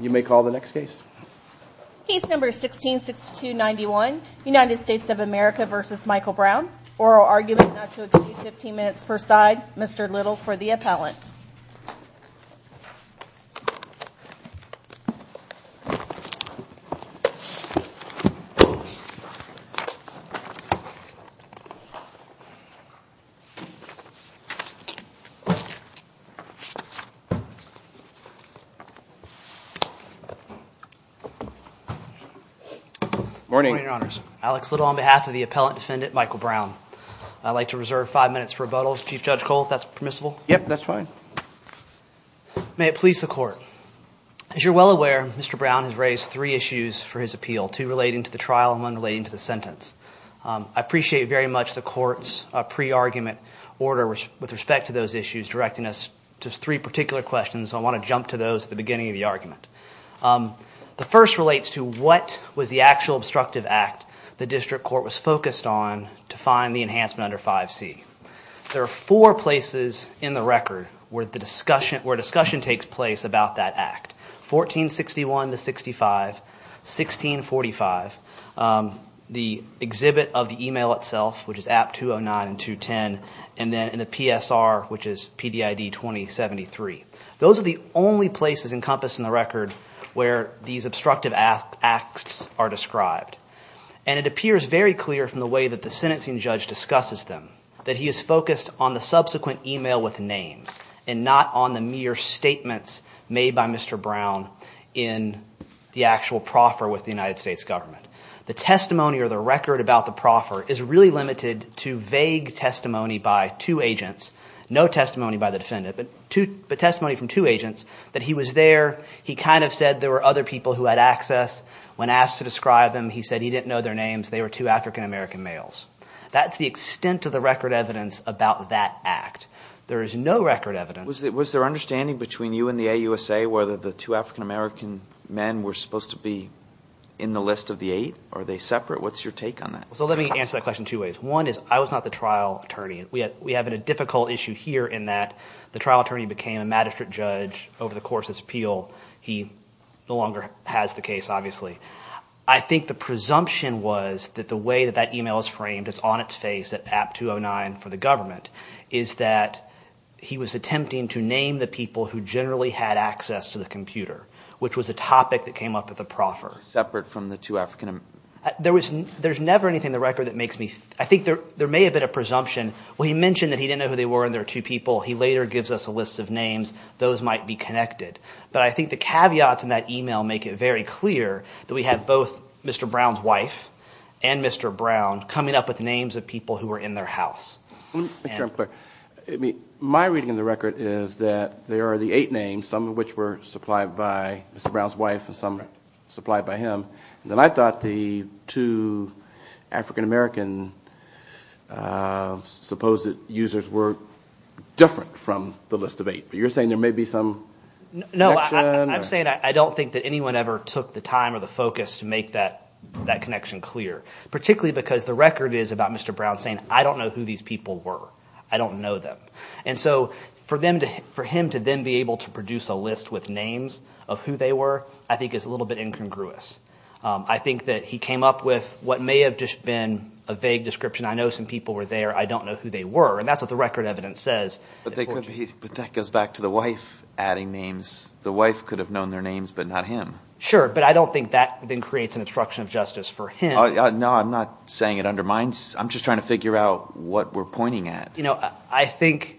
You may call the next case. Case number 166291, United States of America v. Michael Brown. Oral argument not to exceed 15 minutes per side. Mr. Little for the appellant. Good morning, your honors. Alex Little on behalf of the appellant defendant Michael Brown. I'd like to reserve five minutes for rebuttals. Chief Judge Cole, if that's permissible. Yep, that's fine. May it please the court. As you're well aware, Mr. Brown has raised three issues for his appeal, two relating to the trial and one relating to the sentence. I appreciate very much the court's pre-argument order with respect to those issues, directing us to three particular questions. So I want to jump to those at the beginning of the argument. The first relates to what was the actual obstructive act the district court was focused on to find the enhancement under 5C. There are four places in the record where discussion takes place about that act. 1461 to 65, 1645, the exhibit of the email itself, which is app 209 and 210, and the PSR, which is PDID 2073. Those are the only places encompassed in the record where these obstructive acts are described. And it appears very clear from the way that the sentencing judge discusses them that he is focused on the subsequent email with names and not on the mere statements made by Mr. Brown in the actual proffer with the United States government. The testimony or the record about the proffer is really limited to vague testimony by two agents, no testimony by the defendant, but testimony from two agents that he was there. He kind of said there were other people who had access. When asked to describe them, he said he didn't know their names. They were two African-American males. That's the extent of the record evidence about that act. There is no record evidence. Was there understanding between you and the AUSA whether the two African-American men were supposed to be in the list of the eight? Are they separate? What's your take on that? So let me answer that question two ways. One is I was not the trial attorney. We have a difficult issue here in that the trial attorney became a magistrate judge over the course of his appeal. He no longer has the case, obviously. I think the presumption was that the way that that email is framed is on its face at App 209 for the government is that he was attempting to name the people who generally had access to the computer, which was a topic that came up at the proffer. Separate from the two African-Americans? There's never anything in the record that makes me think. I think there may have been a presumption. Well, he mentioned that he didn't know who they were and they were two people. He later gives us a list of names. Those might be connected. But I think the caveats in that email make it very clear that we have both Mr. Brown's wife and Mr. Brown coming up with names of people who were in their house. Let me make sure I'm clear. My reading of the record is that there are the eight names, some of which were supplied by Mr. Brown's wife and some supplied by him. Then I thought the two African-American users were different from the list of eight. But you're saying there may be some connection? No, I'm saying I don't think that anyone ever took the time or the focus to make that connection clear, particularly because the record is about Mr. Brown saying I don't know who these people were. I don't know them. And so for him to then be able to produce a list with names of who they were I think is a little bit incongruous. I think that he came up with what may have just been a vague description. I know some people were there. I don't know who they were, and that's what the record evidence says. But that goes back to the wife adding names. The wife could have known their names but not him. Sure, but I don't think that then creates an obstruction of justice for him. No, I'm not saying it undermines. I'm just trying to figure out what we're pointing at. I think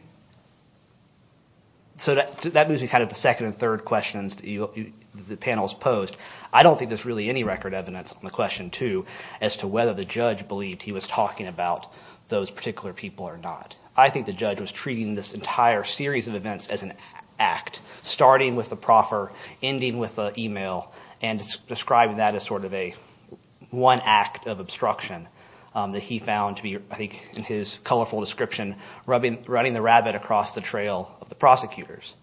– so that moves me kind of to the second and third questions that the panel has posed. I don't think there's really any record evidence on the question two as to whether the judge believed he was talking about those particular people or not. I think the judge was treating this entire series of events as an act, starting with the proffer, ending with the email, and describing that as sort of a one act of obstruction that he found to be, I think, in his colorful description, running the rabbit across the trail of the prosecutors.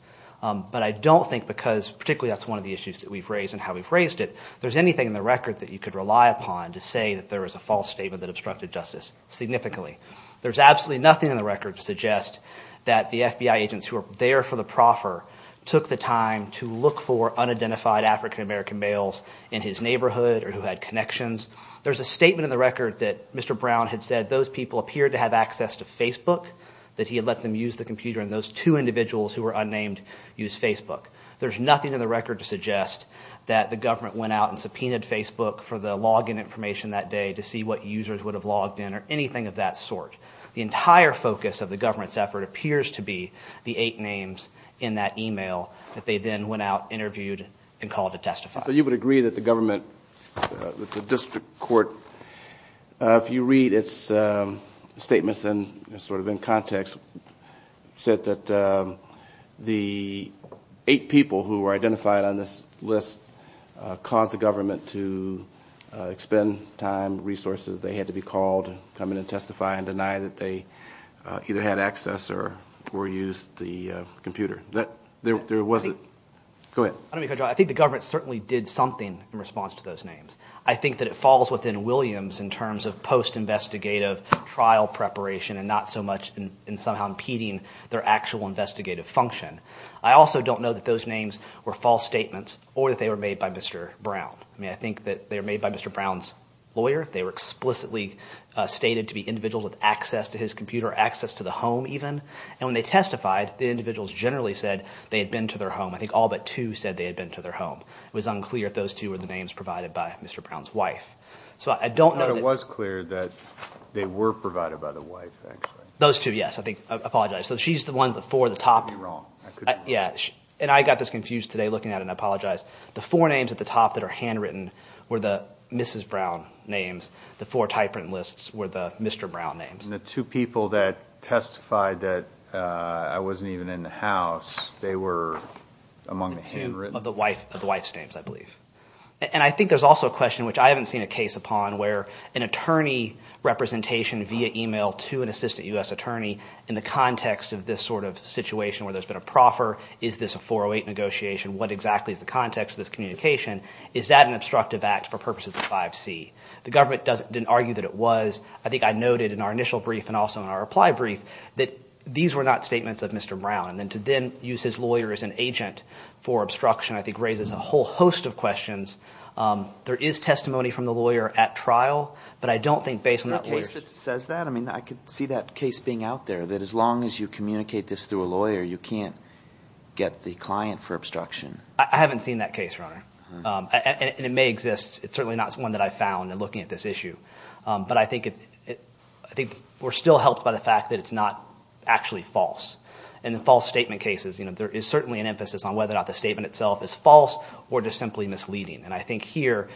But I don't think because particularly that's one of the issues that we've raised and how we've raised it, there's anything in the record that you could rely upon to say that there was a false statement that obstructed justice significantly. There's absolutely nothing in the record to suggest that the FBI agents who were there for the proffer took the time to look for unidentified African American males in his neighborhood or who had connections. There's a statement in the record that Mr. Brown had said those people appeared to have access to Facebook, that he had let them use the computer, and those two individuals who were unnamed used Facebook. There's nothing in the record to suggest that the government went out and subpoenaed Facebook for the login information that day to see what users would have logged in or anything of that sort. The entire focus of the government's effort appears to be the eight names in that email that they then went out, interviewed, and called to testify. So you would agree that the government, that the district court, if you read its statements in sort of in context, said that the eight people who were identified on this list caused the government to expend time, resources. They had to be called to come in and testify and deny that they either had access or used the computer. There wasn't – go ahead. I think the government certainly did something in response to those names. I think that it falls within Williams in terms of post-investigative trial preparation and not so much in somehow impeding their actual investigative function. I also don't know that those names were false statements or that they were made by Mr. Brown. I mean I think that they were made by Mr. Brown's lawyer. They were explicitly stated to be individuals with access to his computer or access to the home even. And when they testified, the individuals generally said they had been to their home. I think all but two said they had been to their home. It was unclear if those two were the names provided by Mr. Brown's wife. So I don't know that – But it was clear that they were provided by the wife actually. Those two, yes. I think – I apologize. So she's the one, the four at the top. You got me wrong. Yeah, and I got this confused today looking at it, and I apologize. The four names at the top that are handwritten were the Mrs. Brown names. The four typewritten lists were the Mr. Brown names. And the two people that testified that I wasn't even in the house, they were among the handwritten? Two of the wife's names, I believe. And I think there's also a question, which I haven't seen a case upon, where an attorney representation via email to an assistant U.S. attorney in the context of this sort of situation where there's been a proffer, is this a 408 negotiation? What exactly is the context of this communication? Is that an obstructive act for purposes of 5C? The government didn't argue that it was. I think I noted in our initial brief and also in our reply brief that these were not statements of Mr. Brown. And then to then use his lawyer as an agent for obstruction I think raises a whole host of questions. There is testimony from the lawyer at trial, but I don't think based on that lawyer's – Is there a case that says that? I could see that case being out there, that as long as you communicate this through a lawyer, you can't get the client for obstruction. I haven't seen that case, Your Honor. And it may exist. It's certainly not one that I found in looking at this issue. But I think we're still helped by the fact that it's not actually false. And in false statement cases, there is certainly an emphasis on whether or not the statement itself is false or just simply misleading. And I think here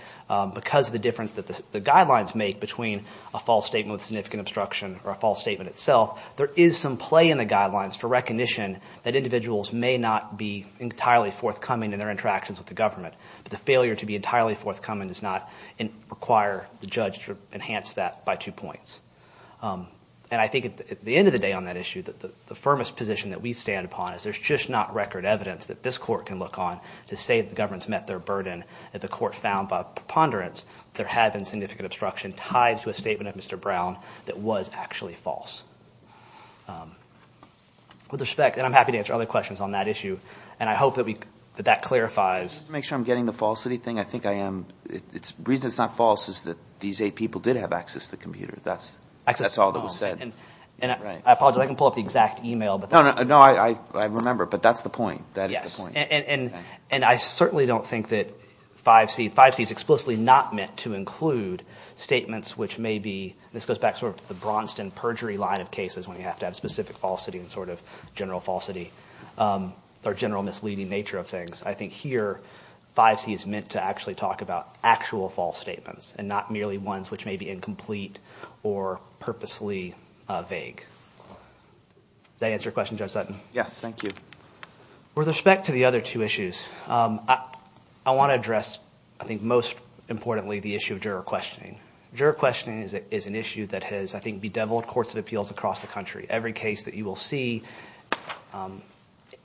because of the difference that the guidelines make between a false statement with significant obstruction or a false statement itself, there is some play in the guidelines for recognition that individuals may not be entirely forthcoming in their interactions with the government. But the failure to be entirely forthcoming does not require the judge to enhance that by two points. And I think at the end of the day on that issue, the firmest position that we stand upon is there's just not record evidence that this court can look on to say the government has met their burden. That the court found by preponderance there had been significant obstruction tied to a statement of Mr. Brown that was actually false. With respect, and I'm happy to answer other questions on that issue, and I hope that that clarifies. Let me make sure I'm getting the falsity thing. I think I am. The reason it's not false is that these eight people did have access to the computer. That's all that was said. And I apologize. I can pull up the exact email. I remember. But that's the point. That is the point. And I certainly don't think that 5C. 5C is explicitly not meant to include statements which may be. This goes back to the Braunston perjury line of cases when you have to have specific falsity and sort of general falsity or general misleading nature of things. I think here 5C is meant to actually talk about actual false statements and not merely ones which may be incomplete or purposefully vague. Does that answer your question, Judge Sutton? Yes, thank you. With respect to the other two issues, I want to address, I think most importantly, the issue of juror questioning. Juror questioning is an issue that has, I think, bedeviled courts of appeals across the country. Every case that you will see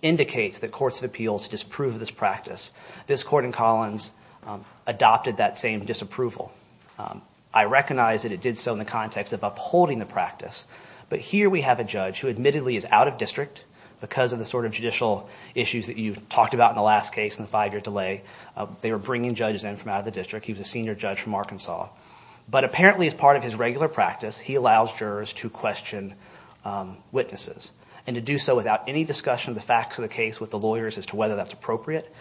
indicates that courts of appeals disprove this practice. This court in Collins adopted that same disapproval. I recognize that it did so in the context of upholding the practice. But here we have a judge who admittedly is out of district because of the sort of judicial issues that you talked about in the last case and the five-year delay. They were bringing judges in from out of the district. He was a senior judge from Arkansas. But apparently as part of his regular practice, he allows jurors to question witnesses and to do so without any discussion of the facts of the case with the lawyers as to whether that's appropriate.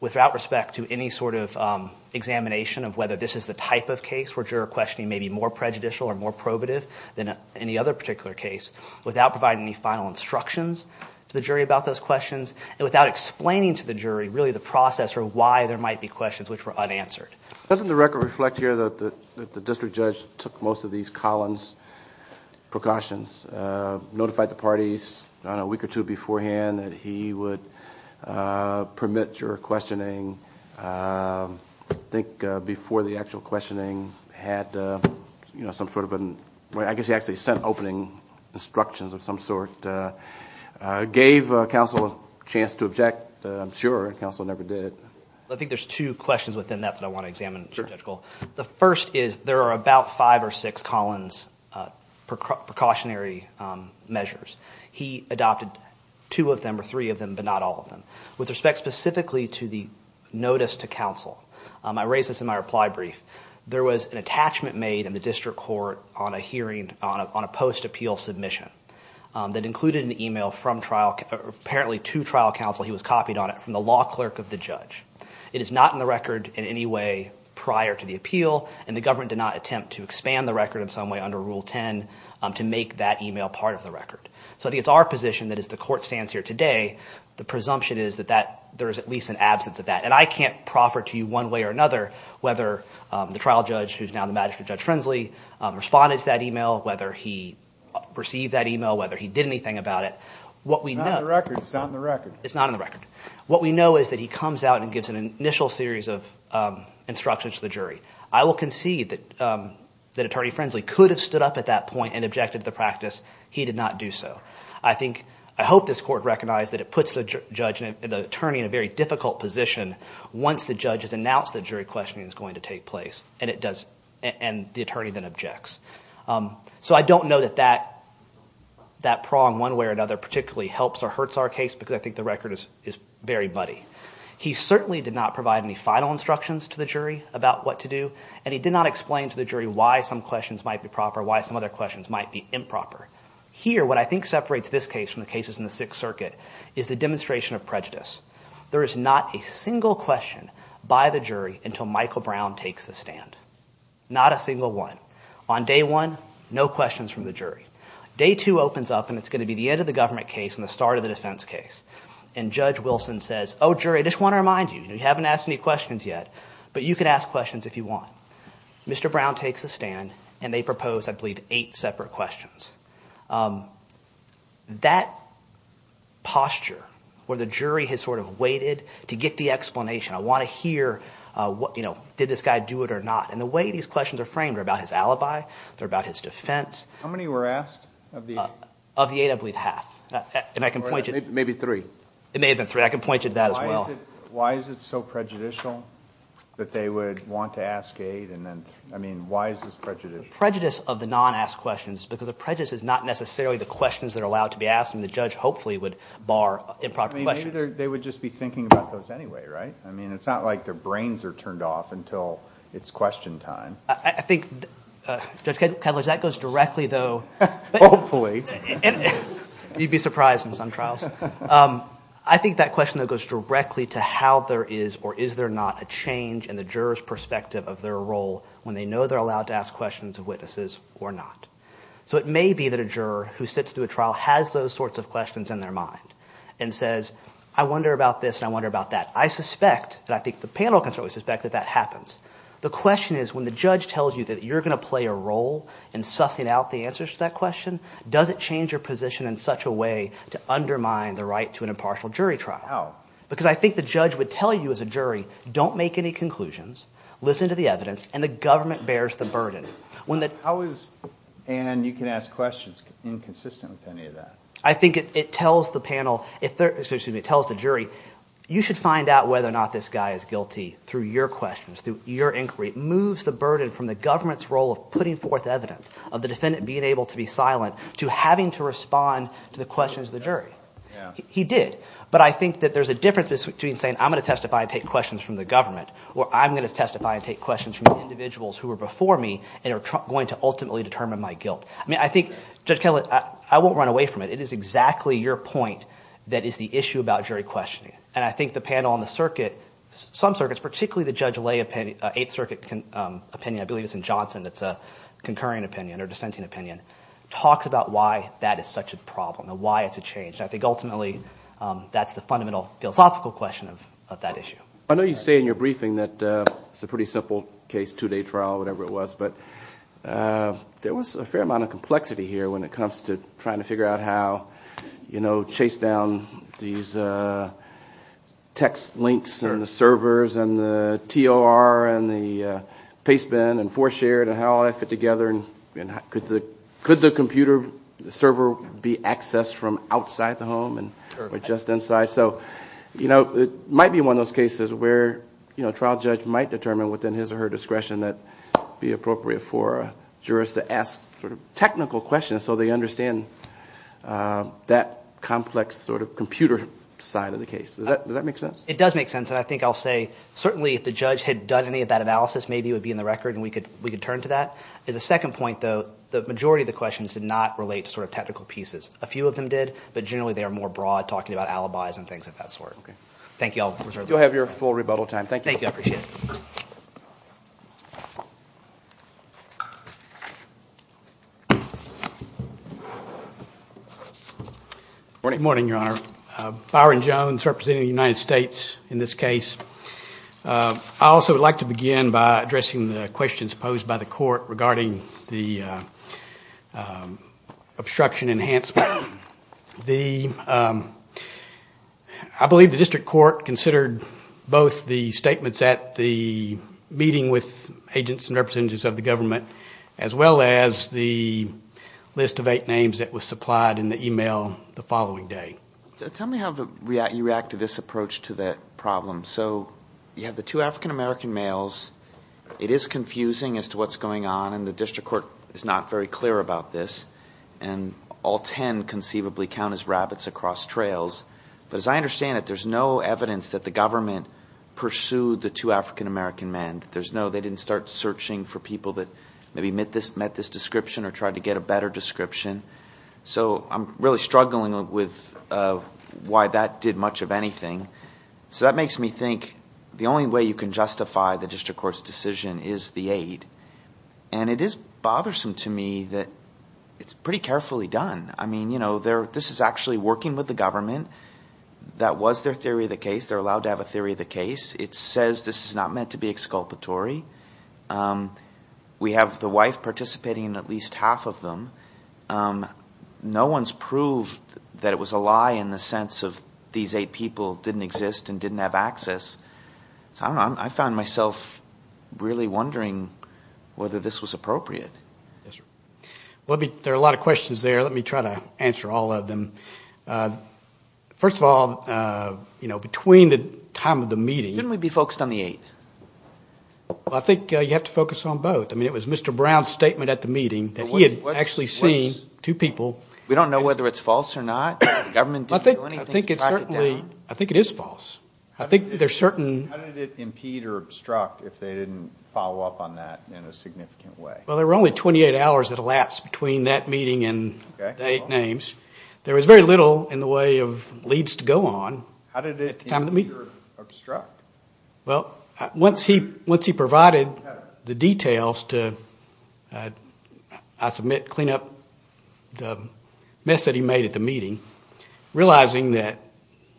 Without respect to any sort of examination of whether this is the type of case where juror questioning may be more prejudicial or more probative than any other particular case. Without providing any final instructions to the jury about those questions. And without explaining to the jury really the process or why there might be questions which were unanswered. Doesn't the record reflect here that the district judge took most of these Collins precautions? Notified the parties on a week or two beforehand that he would permit juror questioning. I think before the actual questioning had some sort of – I guess he actually sent opening instructions of some sort. Gave counsel a chance to object. I'm sure counsel never did. I think there's two questions within that that I want to examine. The first is there are about five or six Collins precautionary measures. He adopted two of them or three of them but not all of them. With respect specifically to the notice to counsel, I raised this in my reply brief. There was an attachment made in the district court on a hearing – on a post-appeal submission that included an email from trial – apparently to trial counsel. He was copied on it from the law clerk of the judge. It is not in the record in any way prior to the appeal, and the government did not attempt to expand the record in some way under Rule 10 to make that email part of the record. So I think it's our position that as the court stands here today, the presumption is that that – there is at least an absence of that. And I can't proffer to you one way or another whether the trial judge who is now the magistrate, Judge Frensley, responded to that email, whether he received that email, whether he did anything about it. What we know – It's not in the record. It's not in the record. What we know is that he comes out and gives an initial series of instructions to the jury. I will concede that Attorney Frensley could have stood up at that point and objected to the practice. He did not do so. I think – I hope this court recognizes that it puts the judge and the attorney in a very difficult position once the judge has announced that jury questioning is going to take place, and it does – and the attorney then objects. So I don't know that that prong one way or another particularly helps or hurts our case because I think the record is very muddy. He certainly did not provide any final instructions to the jury about what to do, and he did not explain to the jury why some questions might be proper, why some other questions might be improper. Here, what I think separates this case from the cases in the Sixth Circuit is the demonstration of prejudice. There is not a single question by the jury until Michael Brown takes the stand, not a single one. On day one, no questions from the jury. Day two opens up, and it's going to be the end of the government case and the start of the defense case. And Judge Wilson says, oh, jury, I just want to remind you. You haven't asked any questions yet, but you can ask questions if you want. Mr. Brown takes the stand, and they propose I believe eight separate questions. That posture where the jury has sort of waited to get the explanation, I want to hear did this guy do it or not. And the way these questions are framed are about his alibi. They're about his defense. How many were asked of the eight? Of the eight, I believe half, and I can point you to – Or maybe three. It may have been three. I can point you to that as well. Why is it so prejudicial that they would want to ask eight? I mean, why is this prejudicial? Prejudice of the non-asked questions is because the prejudice is not necessarily the questions that are allowed to be asked, and the judge hopefully would bar improper questions. Maybe they would just be thinking about those anyway, right? I mean, it's not like their brains are turned off until it's question time. I think, Judge Ketledge, that goes directly, though – Hopefully. You'd be surprised in some trials. I think that question, though, goes directly to how there is or is there not a change in the juror's perspective of their role when they know they're allowed to ask questions of witnesses or not. So it may be that a juror who sits through a trial has those sorts of questions in their mind and says, I wonder about this and I wonder about that. I suspect, and I think the panel can certainly suspect that that happens. The question is, when the judge tells you that you're going to play a role in sussing out the answers to that question, does it change your position in such a way to undermine the right to an impartial jury trial? How? Because I think the judge would tell you as a jury, don't make any conclusions. Listen to the evidence, and the government bears the burden. How is – and you can ask questions inconsistent with any of that. I think it tells the panel – excuse me, it tells the jury, you should find out whether or not this guy is guilty through your questions, through your inquiry. It moves the burden from the government's role of putting forth evidence, of the defendant being able to be silent, to having to respond to the questions of the jury. He did. But I think that there's a difference between saying I'm going to testify and take questions from the government or I'm going to testify and take questions from the individuals who were before me and are going to ultimately determine my guilt. I mean I think, Judge Kellett, I won't run away from it. It is exactly your point that is the issue about jury questioning. And I think the panel on the circuit, some circuits, particularly the Judge Lay opinion, Eighth Circuit opinion, I believe it's in Johnson that's a concurring opinion or dissenting opinion, talks about why that is such a problem and why it's a change. And I think ultimately that's the fundamental philosophical question of that issue. I know you say in your briefing that it's a pretty simple case, two-day trial, whatever it was. But there was a fair amount of complexity here when it comes to trying to figure out how, you know, chase down these text links and the servers and the TOR and the pastebin and four-shared and how all that fit together. And could the computer, the server be accessed from outside the home or just inside? So, you know, it might be one of those cases where, you know, it's at her discretion that it be appropriate for jurors to ask sort of technical questions so they understand that complex sort of computer side of the case. Does that make sense? It does make sense. And I think I'll say certainly if the judge had done any of that analysis, maybe it would be in the record and we could turn to that. As a second point, though, the majority of the questions did not relate to sort of technical pieces. A few of them did, but generally they are more broad, talking about alibis and things of that sort. Thank you. You'll have your full rebuttal time. Thank you. Thank you. I appreciate it. Good morning, Your Honor. Byron Jones, representing the United States in this case. I also would like to begin by addressing the questions posed by the court regarding the obstruction enhancement. I believe the district court considered both the statements at the meeting with agents and representatives of the government as well as the list of eight names that was supplied in the email the following day. Tell me how you react to this approach to that problem. So you have the two African-American males. It is confusing as to what's going on, and the district court is not very clear about this. And all ten conceivably count as rabbits across trails. But as I understand it, there's no evidence that the government pursued the two African-American men. They didn't start searching for people that maybe met this description or tried to get a better description. So I'm really struggling with why that did much of anything. So that makes me think the only way you can justify the district court's decision is the eight. And it is bothersome to me that it's pretty carefully done. I mean, you know, this is actually working with the government. That was their theory of the case. They're allowed to have a theory of the case. It says this is not meant to be exculpatory. We have the wife participating in at least half of them. No one's proved that it was a lie in the sense of these eight people didn't exist and didn't have access. So I don't know, I found myself really wondering whether this was appropriate. There are a lot of questions there. Let me try to answer all of them. First of all, you know, between the time of the meeting. Shouldn't we be focused on the eight? I think you have to focus on both. I mean, it was Mr. Brown's statement at the meeting that he had actually seen two people. We don't know whether it's false or not. The government didn't do anything to track it down. I think it is false. How did it impede or obstruct if they didn't follow up on that in a significant way? Well, there were only 28 hours that elapsed between that meeting and the eight names. There was very little in the way of leads to go on at the time of the meeting. How did it impede or obstruct? Well, once he provided the details to, I submit, clean up the mess that he made at the meeting, realizing that,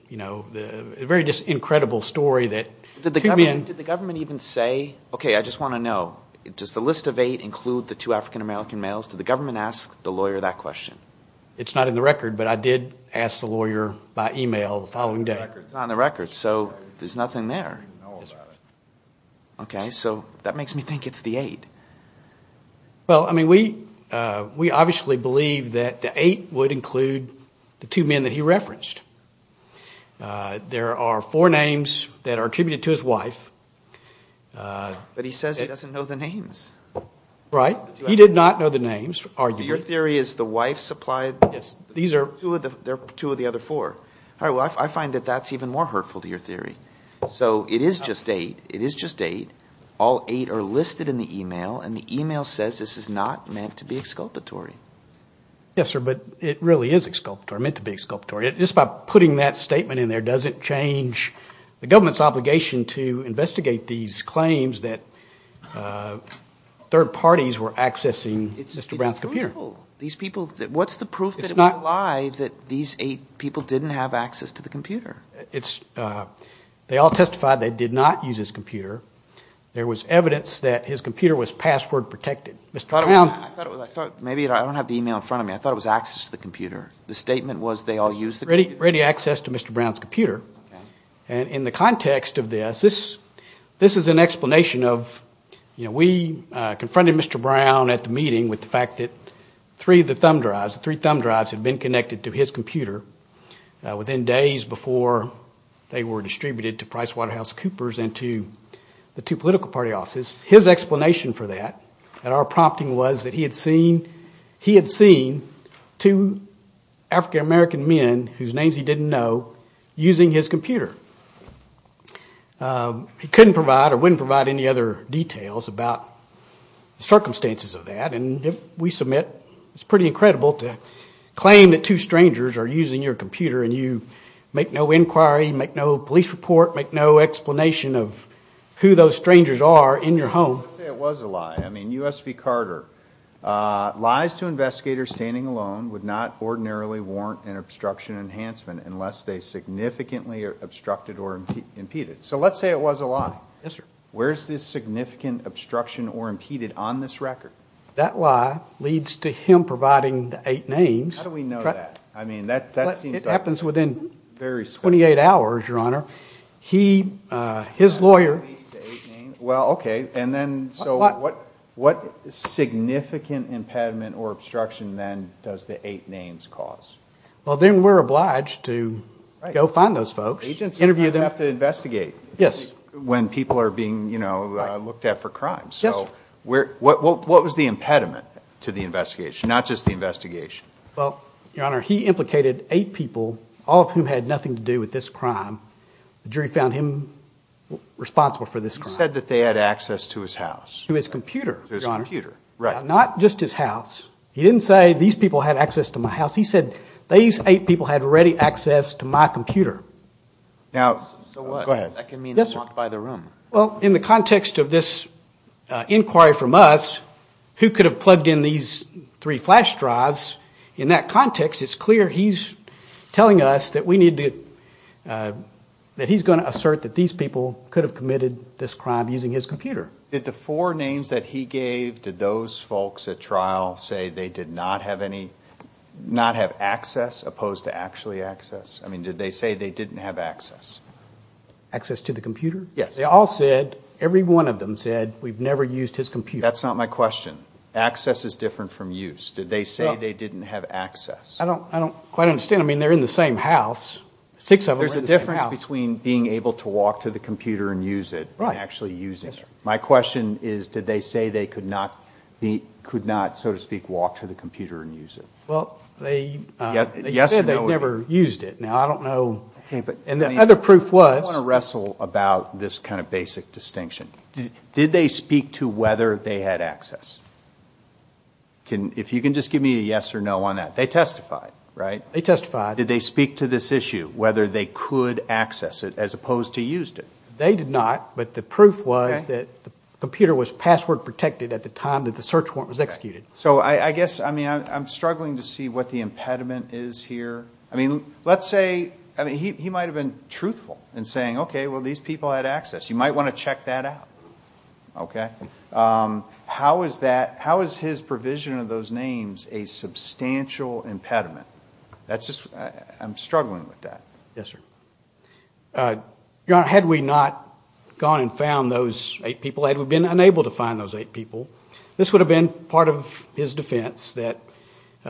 you know, a very incredible story. Did the government even say, okay, I just want to know, does the list of eight include the two African-American males? Did the government ask the lawyer that question? It's not in the record, but I did ask the lawyer by e-mail the following day. It's not in the record, so there's nothing there. Okay, so that makes me think it's the eight. Well, I mean, we obviously believe that the eight would include the two men that he referenced. There are four names that are attributed to his wife. But he says he doesn't know the names. Right. He did not know the names, arguably. So your theory is the wife supplied? Yes. These are two of the other four. All right, well, I find that that's even more hurtful to your theory. So it is just eight. It is just eight. All eight are listed in the e-mail, and the e-mail says this is not meant to be exculpatory. Yes, sir, but it really is exculpatory, meant to be exculpatory. Just by putting that statement in there doesn't change the government's obligation to investigate these claims that third parties were accessing Mr. Brown's computer. These people, what's the proof that it was not live that these eight people didn't have access to the computer? They all testified they did not use his computer. There was evidence that his computer was password protected. I thought maybe I don't have the e-mail in front of me. I thought it was access to the computer. The statement was they all used the computer? Ready access to Mr. Brown's computer. And in the context of this, this is an explanation of, you know, we confronted Mr. Brown at the meeting with the fact that three of the thumb drives, the three thumb drives had been connected to his computer within days before they were distributed to PricewaterhouseCoopers and to the two political party offices. His explanation for that and our prompting was that he had seen two African-American men, whose names he didn't know, using his computer. He couldn't provide or wouldn't provide any other details about the circumstances of that, and we submit it's pretty incredible to claim that two strangers are using your computer and you make no inquiry, make no police report, make no explanation of who those strangers are in your home. Let's say it was a lie. I mean, U.S. v. Carter, lies to investigators standing alone would not ordinarily warrant an obstruction enhancement unless they significantly obstructed or impeded. So let's say it was a lie. Yes, sir. Where is this significant obstruction or impeded on this record? That lie leads to him providing the eight names. How do we know that? I mean, that seems like… It happens within 28 hours, Your Honor. He, his lawyer… Well, okay, and then so what significant impediment or obstruction then does the eight names cause? Well, then we're obliged to go find those folks, interview them. Yes. When people are being, you know, looked at for crime. Yes, sir. So what was the impediment to the investigation, not just the investigation? Well, Your Honor, he implicated eight people, all of whom had nothing to do with this crime. The jury found him responsible for this crime. He said that they had access to his house. To his computer, Your Honor. To his computer, right. Not just his house. He didn't say these people had access to my house. He said these eight people had ready access to my computer. Now… So what? Go ahead. That can mean they walked by the room. Well, in the context of this inquiry from us, who could have plugged in these three flash drives, in that context, it's clear he's telling us that we need to, that he's going to assert that these people could have committed this crime using his computer. Did the four names that he gave, did those folks at trial say they did not have any, not have access opposed to actually access? I mean, did they say they didn't have access? Access to the computer? Yes. They all said, every one of them said, we've never used his computer. That's not my question. Access is different from use. Did they say they didn't have access? I don't quite understand. I mean, they're in the same house. Six of them are in the same house. There's a difference between being able to walk to the computer and use it and actually using it. My question is, did they say they could not, so to speak, walk to the computer and use it? Well, they said they never used it. Now, I don't know, and the other proof was. I want to wrestle about this kind of basic distinction. Did they speak to whether they had access? If you can just give me a yes or no on that. They testified, right? They testified. Did they speak to this issue, whether they could access it as opposed to used it? They did not, but the proof was that the computer was password protected at the time that the search warrant was executed. So I guess, I mean, I'm struggling to see what the impediment is here. I mean, let's say, I mean, he might have been truthful in saying, okay, well, these people had access. You might want to check that out, okay? How is that, how is his provision of those names a substantial impediment? That's just, I'm struggling with that. Yes, sir. Your Honor, had we not gone and found those eight people, had we been unable to find those eight people, this would have been part of his defense that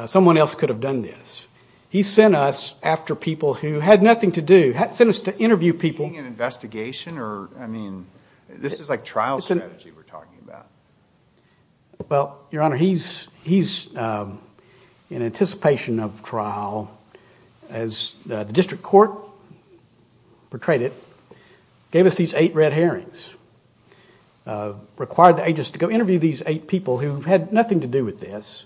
someone else could have done this. He sent us after people who had nothing to do, sent us to interview people. Is this seeking an investigation or, I mean, this is like trial strategy we're talking about. Well, Your Honor, he's in anticipation of trial. As the district court portrayed it, gave us these eight red herrings, required the agents to go interview these eight people who had nothing to do with this.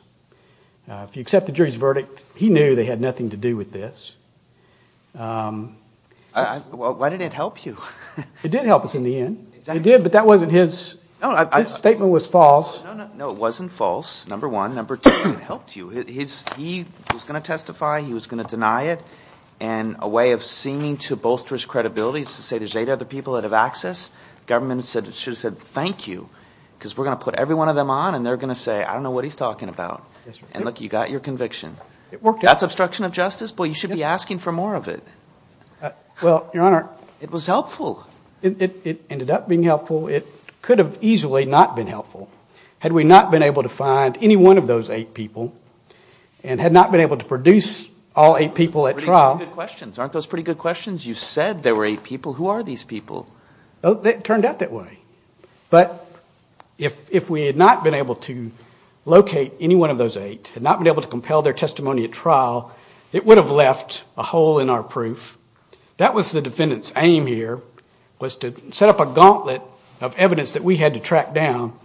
If you accept the jury's verdict, he knew they had nothing to do with this. Why did it help you? It did help us in the end. It did, but that wasn't his, this statement was false. No, it wasn't false, number one. Number two, it helped you. He was going to testify, he was going to deny it, and a way of seeming to bolster his credibility is to say there's eight other people that have access. The government should have said thank you because we're going to put every one of them on and they're going to say I don't know what he's talking about. And look, you got your conviction. That's obstruction of justice? Boy, you should be asking for more of it. Well, Your Honor. It was helpful. It ended up being helpful. It could have easily not been helpful had we not been able to find any one of those eight people and had not been able to produce all eight people at trial. Aren't those pretty good questions? You said there were eight people. Who are these people? It turned out that way. But if we had not been able to locate any one of those eight, had not been able to compel their testimony at trial, it would have left a hole in our proof. That was the defendant's aim here was to set up a gauntlet of evidence that we had to track down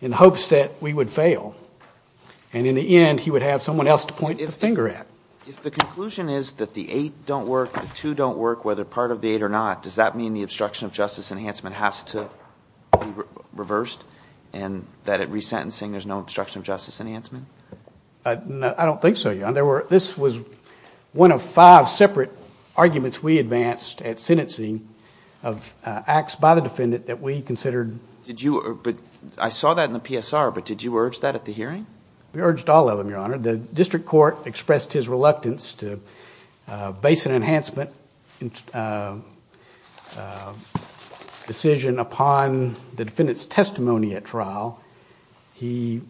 in hopes that we would fail. And in the end, he would have someone else to point a finger at. If the conclusion is that the eight don't work, the two don't work, whether part of the eight or not, does that mean the obstruction of justice enhancement has to be reversed and that at resentencing there's no obstruction of justice enhancement? I don't think so, Your Honor. This was one of five separate arguments we advanced at sentencing of acts by the defendant that we considered. I saw that in the PSR, but did you urge that at the hearing? We urged all of them, Your Honor. The district court expressed his reluctance to base an enhancement decision upon the defendant's testimony at trial. So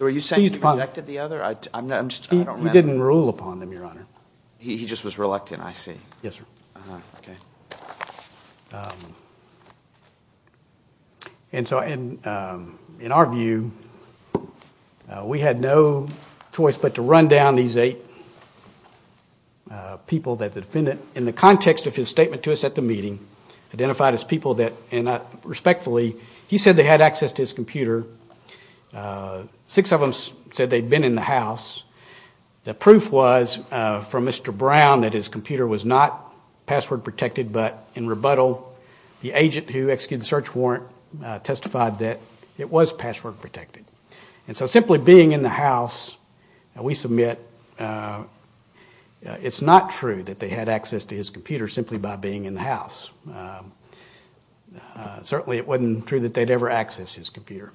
are you saying he rejected the other? He didn't rule upon them, Your Honor. He just was reluctant, I see. Yes, sir. Okay. And so in our view, we had no choice but to run down these eight people that the defendant, in the context of his statement to us at the meeting, identified as people that, and respectfully, he said they had access to his computer. Six of them said they'd been in the house. The proof was from Mr. Brown that his computer was not password protected, but in rebuttal the agent who executed the search warrant testified that it was password protected. And so simply being in the house, we submit it's not true that they had access to his computer simply by being in the house. Certainly it wasn't true that they'd ever accessed his computer.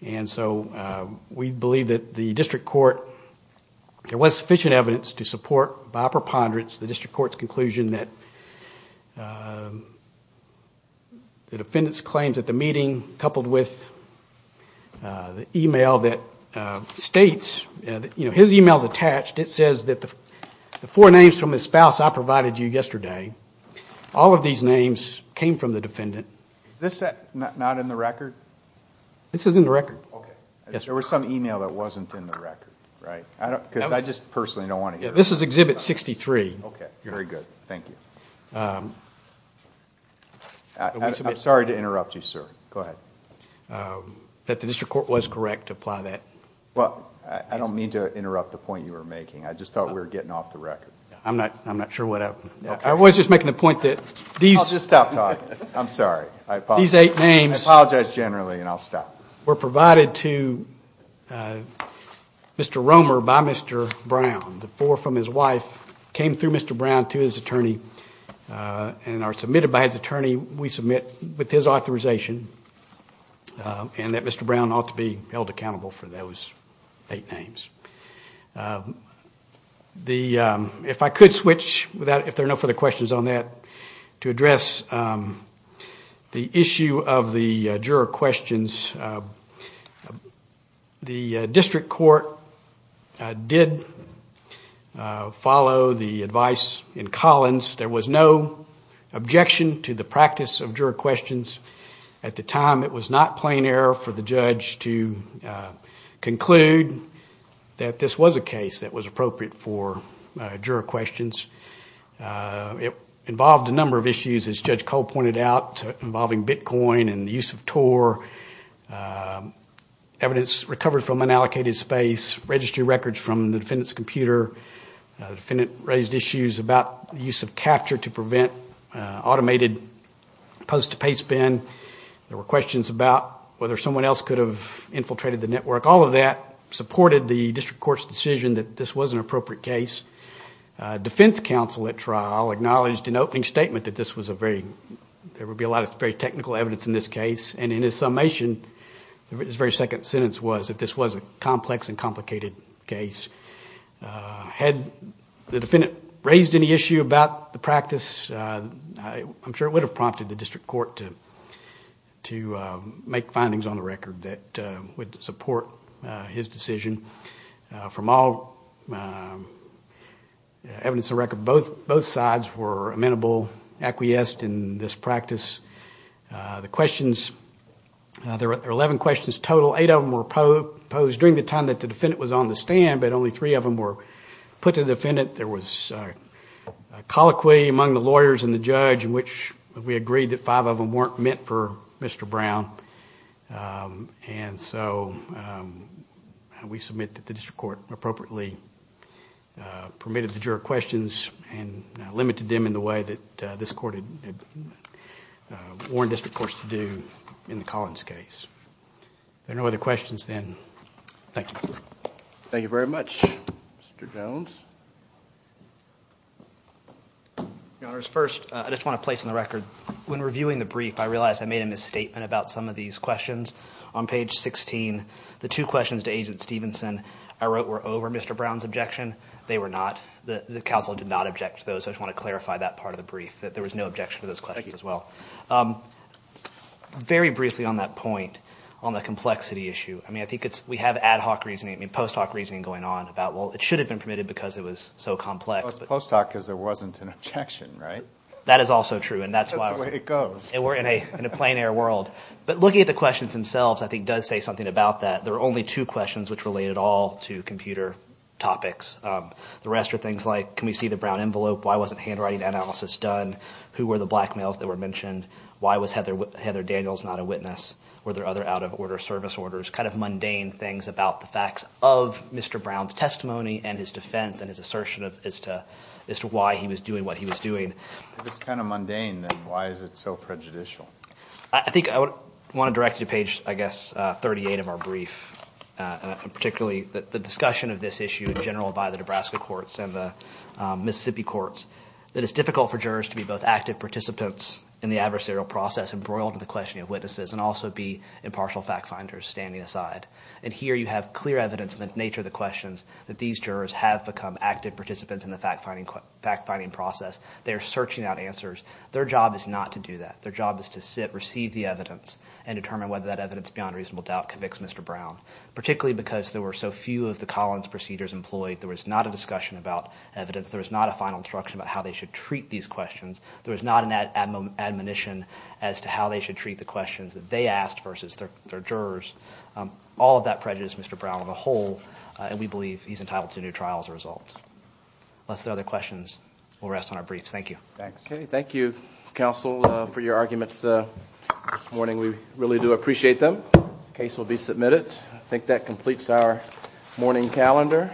And so we believe that the district court, there was sufficient evidence to support, by preponderance, the district court's conclusion that the defendant's claims at the meeting, coupled with the email that states, you know, his email's attached, it says that the four names from his spouse I provided you yesterday, all of these names came from the defendant. Is this not in the record? This is in the record. Okay. There was some email that wasn't in the record, right? Because I just personally don't want to hear it. This is Exhibit 63. Okay. Very good. Thank you. I'm sorry to interrupt you, sir. Go ahead. That the district court was correct to apply that. Well, I don't mean to interrupt the point you were making. I just thought we were getting off the record. I'm not sure what I was just making the point that these I'll just stop talking. I'm sorry. These eight names I apologize generally and I'll stop. were provided to Mr. Romer by Mr. Brown. The four from his wife came through Mr. Brown to his attorney and are submitted by his attorney, we submit with his authorization, and that Mr. Brown ought to be held accountable for those eight names. If I could switch, if there are no further questions on that, to address the issue of the juror questions. The district court did follow the advice in Collins. There was no objection to the practice of juror questions at the time. It was not plain error for the judge to conclude that this was a case that was appropriate for juror questions. It involved a number of issues, as Judge Cole pointed out, involving Bitcoin and the use of TOR, evidence recovered from unallocated space, registry records from the defendant's computer. The defendant raised issues about the use of capture to prevent automated post-pay spend. There were questions about whether someone else could have infiltrated the network. All of that supported the district court's decision that this was an appropriate case. Defense counsel at trial acknowledged in opening statement that this was a very, there would be a lot of very technical evidence in this case, and in his summation, his very second sentence was, that this was a complex and complicated case. Had the defendant raised any issue about the practice, I'm sure it would have prompted the district court to make findings on the record that would support his decision. From all evidence on the record, both sides were amenable, acquiesced in this practice. The questions, there were 11 questions total. Eight of them were posed during the time that the defendant was on the stand, but only three of them were put to the defendant. There was a colloquy among the lawyers and the judge in which we agreed that five of them weren't meant for Mr. Brown. And so we submit that the district court appropriately permitted the juror questions and limited them in the way that this court had warned district courts to do in the Collins case. If there are no other questions, then thank you. Thank you very much. Mr. Jones. Your Honors, first, I just want to place on the record, when reviewing the brief, I realized I made a misstatement about some of these questions. On page 16, the two questions to Agent Stevenson I wrote were over Mr. Brown's objection. They were not. The counsel did not object to those. I just want to clarify that part of the brief, that there was no objection to those questions as well. Very briefly on that point, on the complexity issue, I mean, I think we have ad hoc reasoning, post hoc reasoning going on about, well, it should have been permitted because it was so complex. Well, it's post hoc because there wasn't an objection, right? That is also true, and that's why we're in a plein air world. But looking at the questions themselves, I think it does say something about that. There are only two questions which relate at all to computer topics. The rest are things like, can we see the Brown envelope? Why wasn't handwriting analysis done? Why was Heather Daniels not a witness? Were there other out-of-order service orders? Kind of mundane things about the facts of Mr. Brown's testimony and his defense and his assertion as to why he was doing what he was doing. If it's kind of mundane, then why is it so prejudicial? I think I want to direct you to page, I guess, 38 of our brief, particularly the discussion of this issue in general by the Nebraska courts and the Mississippi courts, that it's difficult for jurors to be both active participants in the adversarial process embroiled in the questioning of witnesses and also be impartial fact-finders standing aside. And here you have clear evidence in the nature of the questions that these jurors have become active participants in the fact-finding process. They are searching out answers. Their job is not to do that. Their job is to sit, receive the evidence, and determine whether that evidence beyond reasonable doubt convicts Mr. Brown, particularly because there were so few of the Collins procedures employed. There was not a discussion about evidence. There was not a final instruction about how they should treat these questions. There was not an admonition as to how they should treat the questions that they asked versus their jurors. All of that prejudiced Mr. Brown as a whole, and we believe he's entitled to a new trial as a result. Unless there are other questions, we'll rest on our briefs. Thank you. Okay, thank you, counsel, for your arguments this morning. We really do appreciate them. The case will be submitted. I think that completes our morning calendar.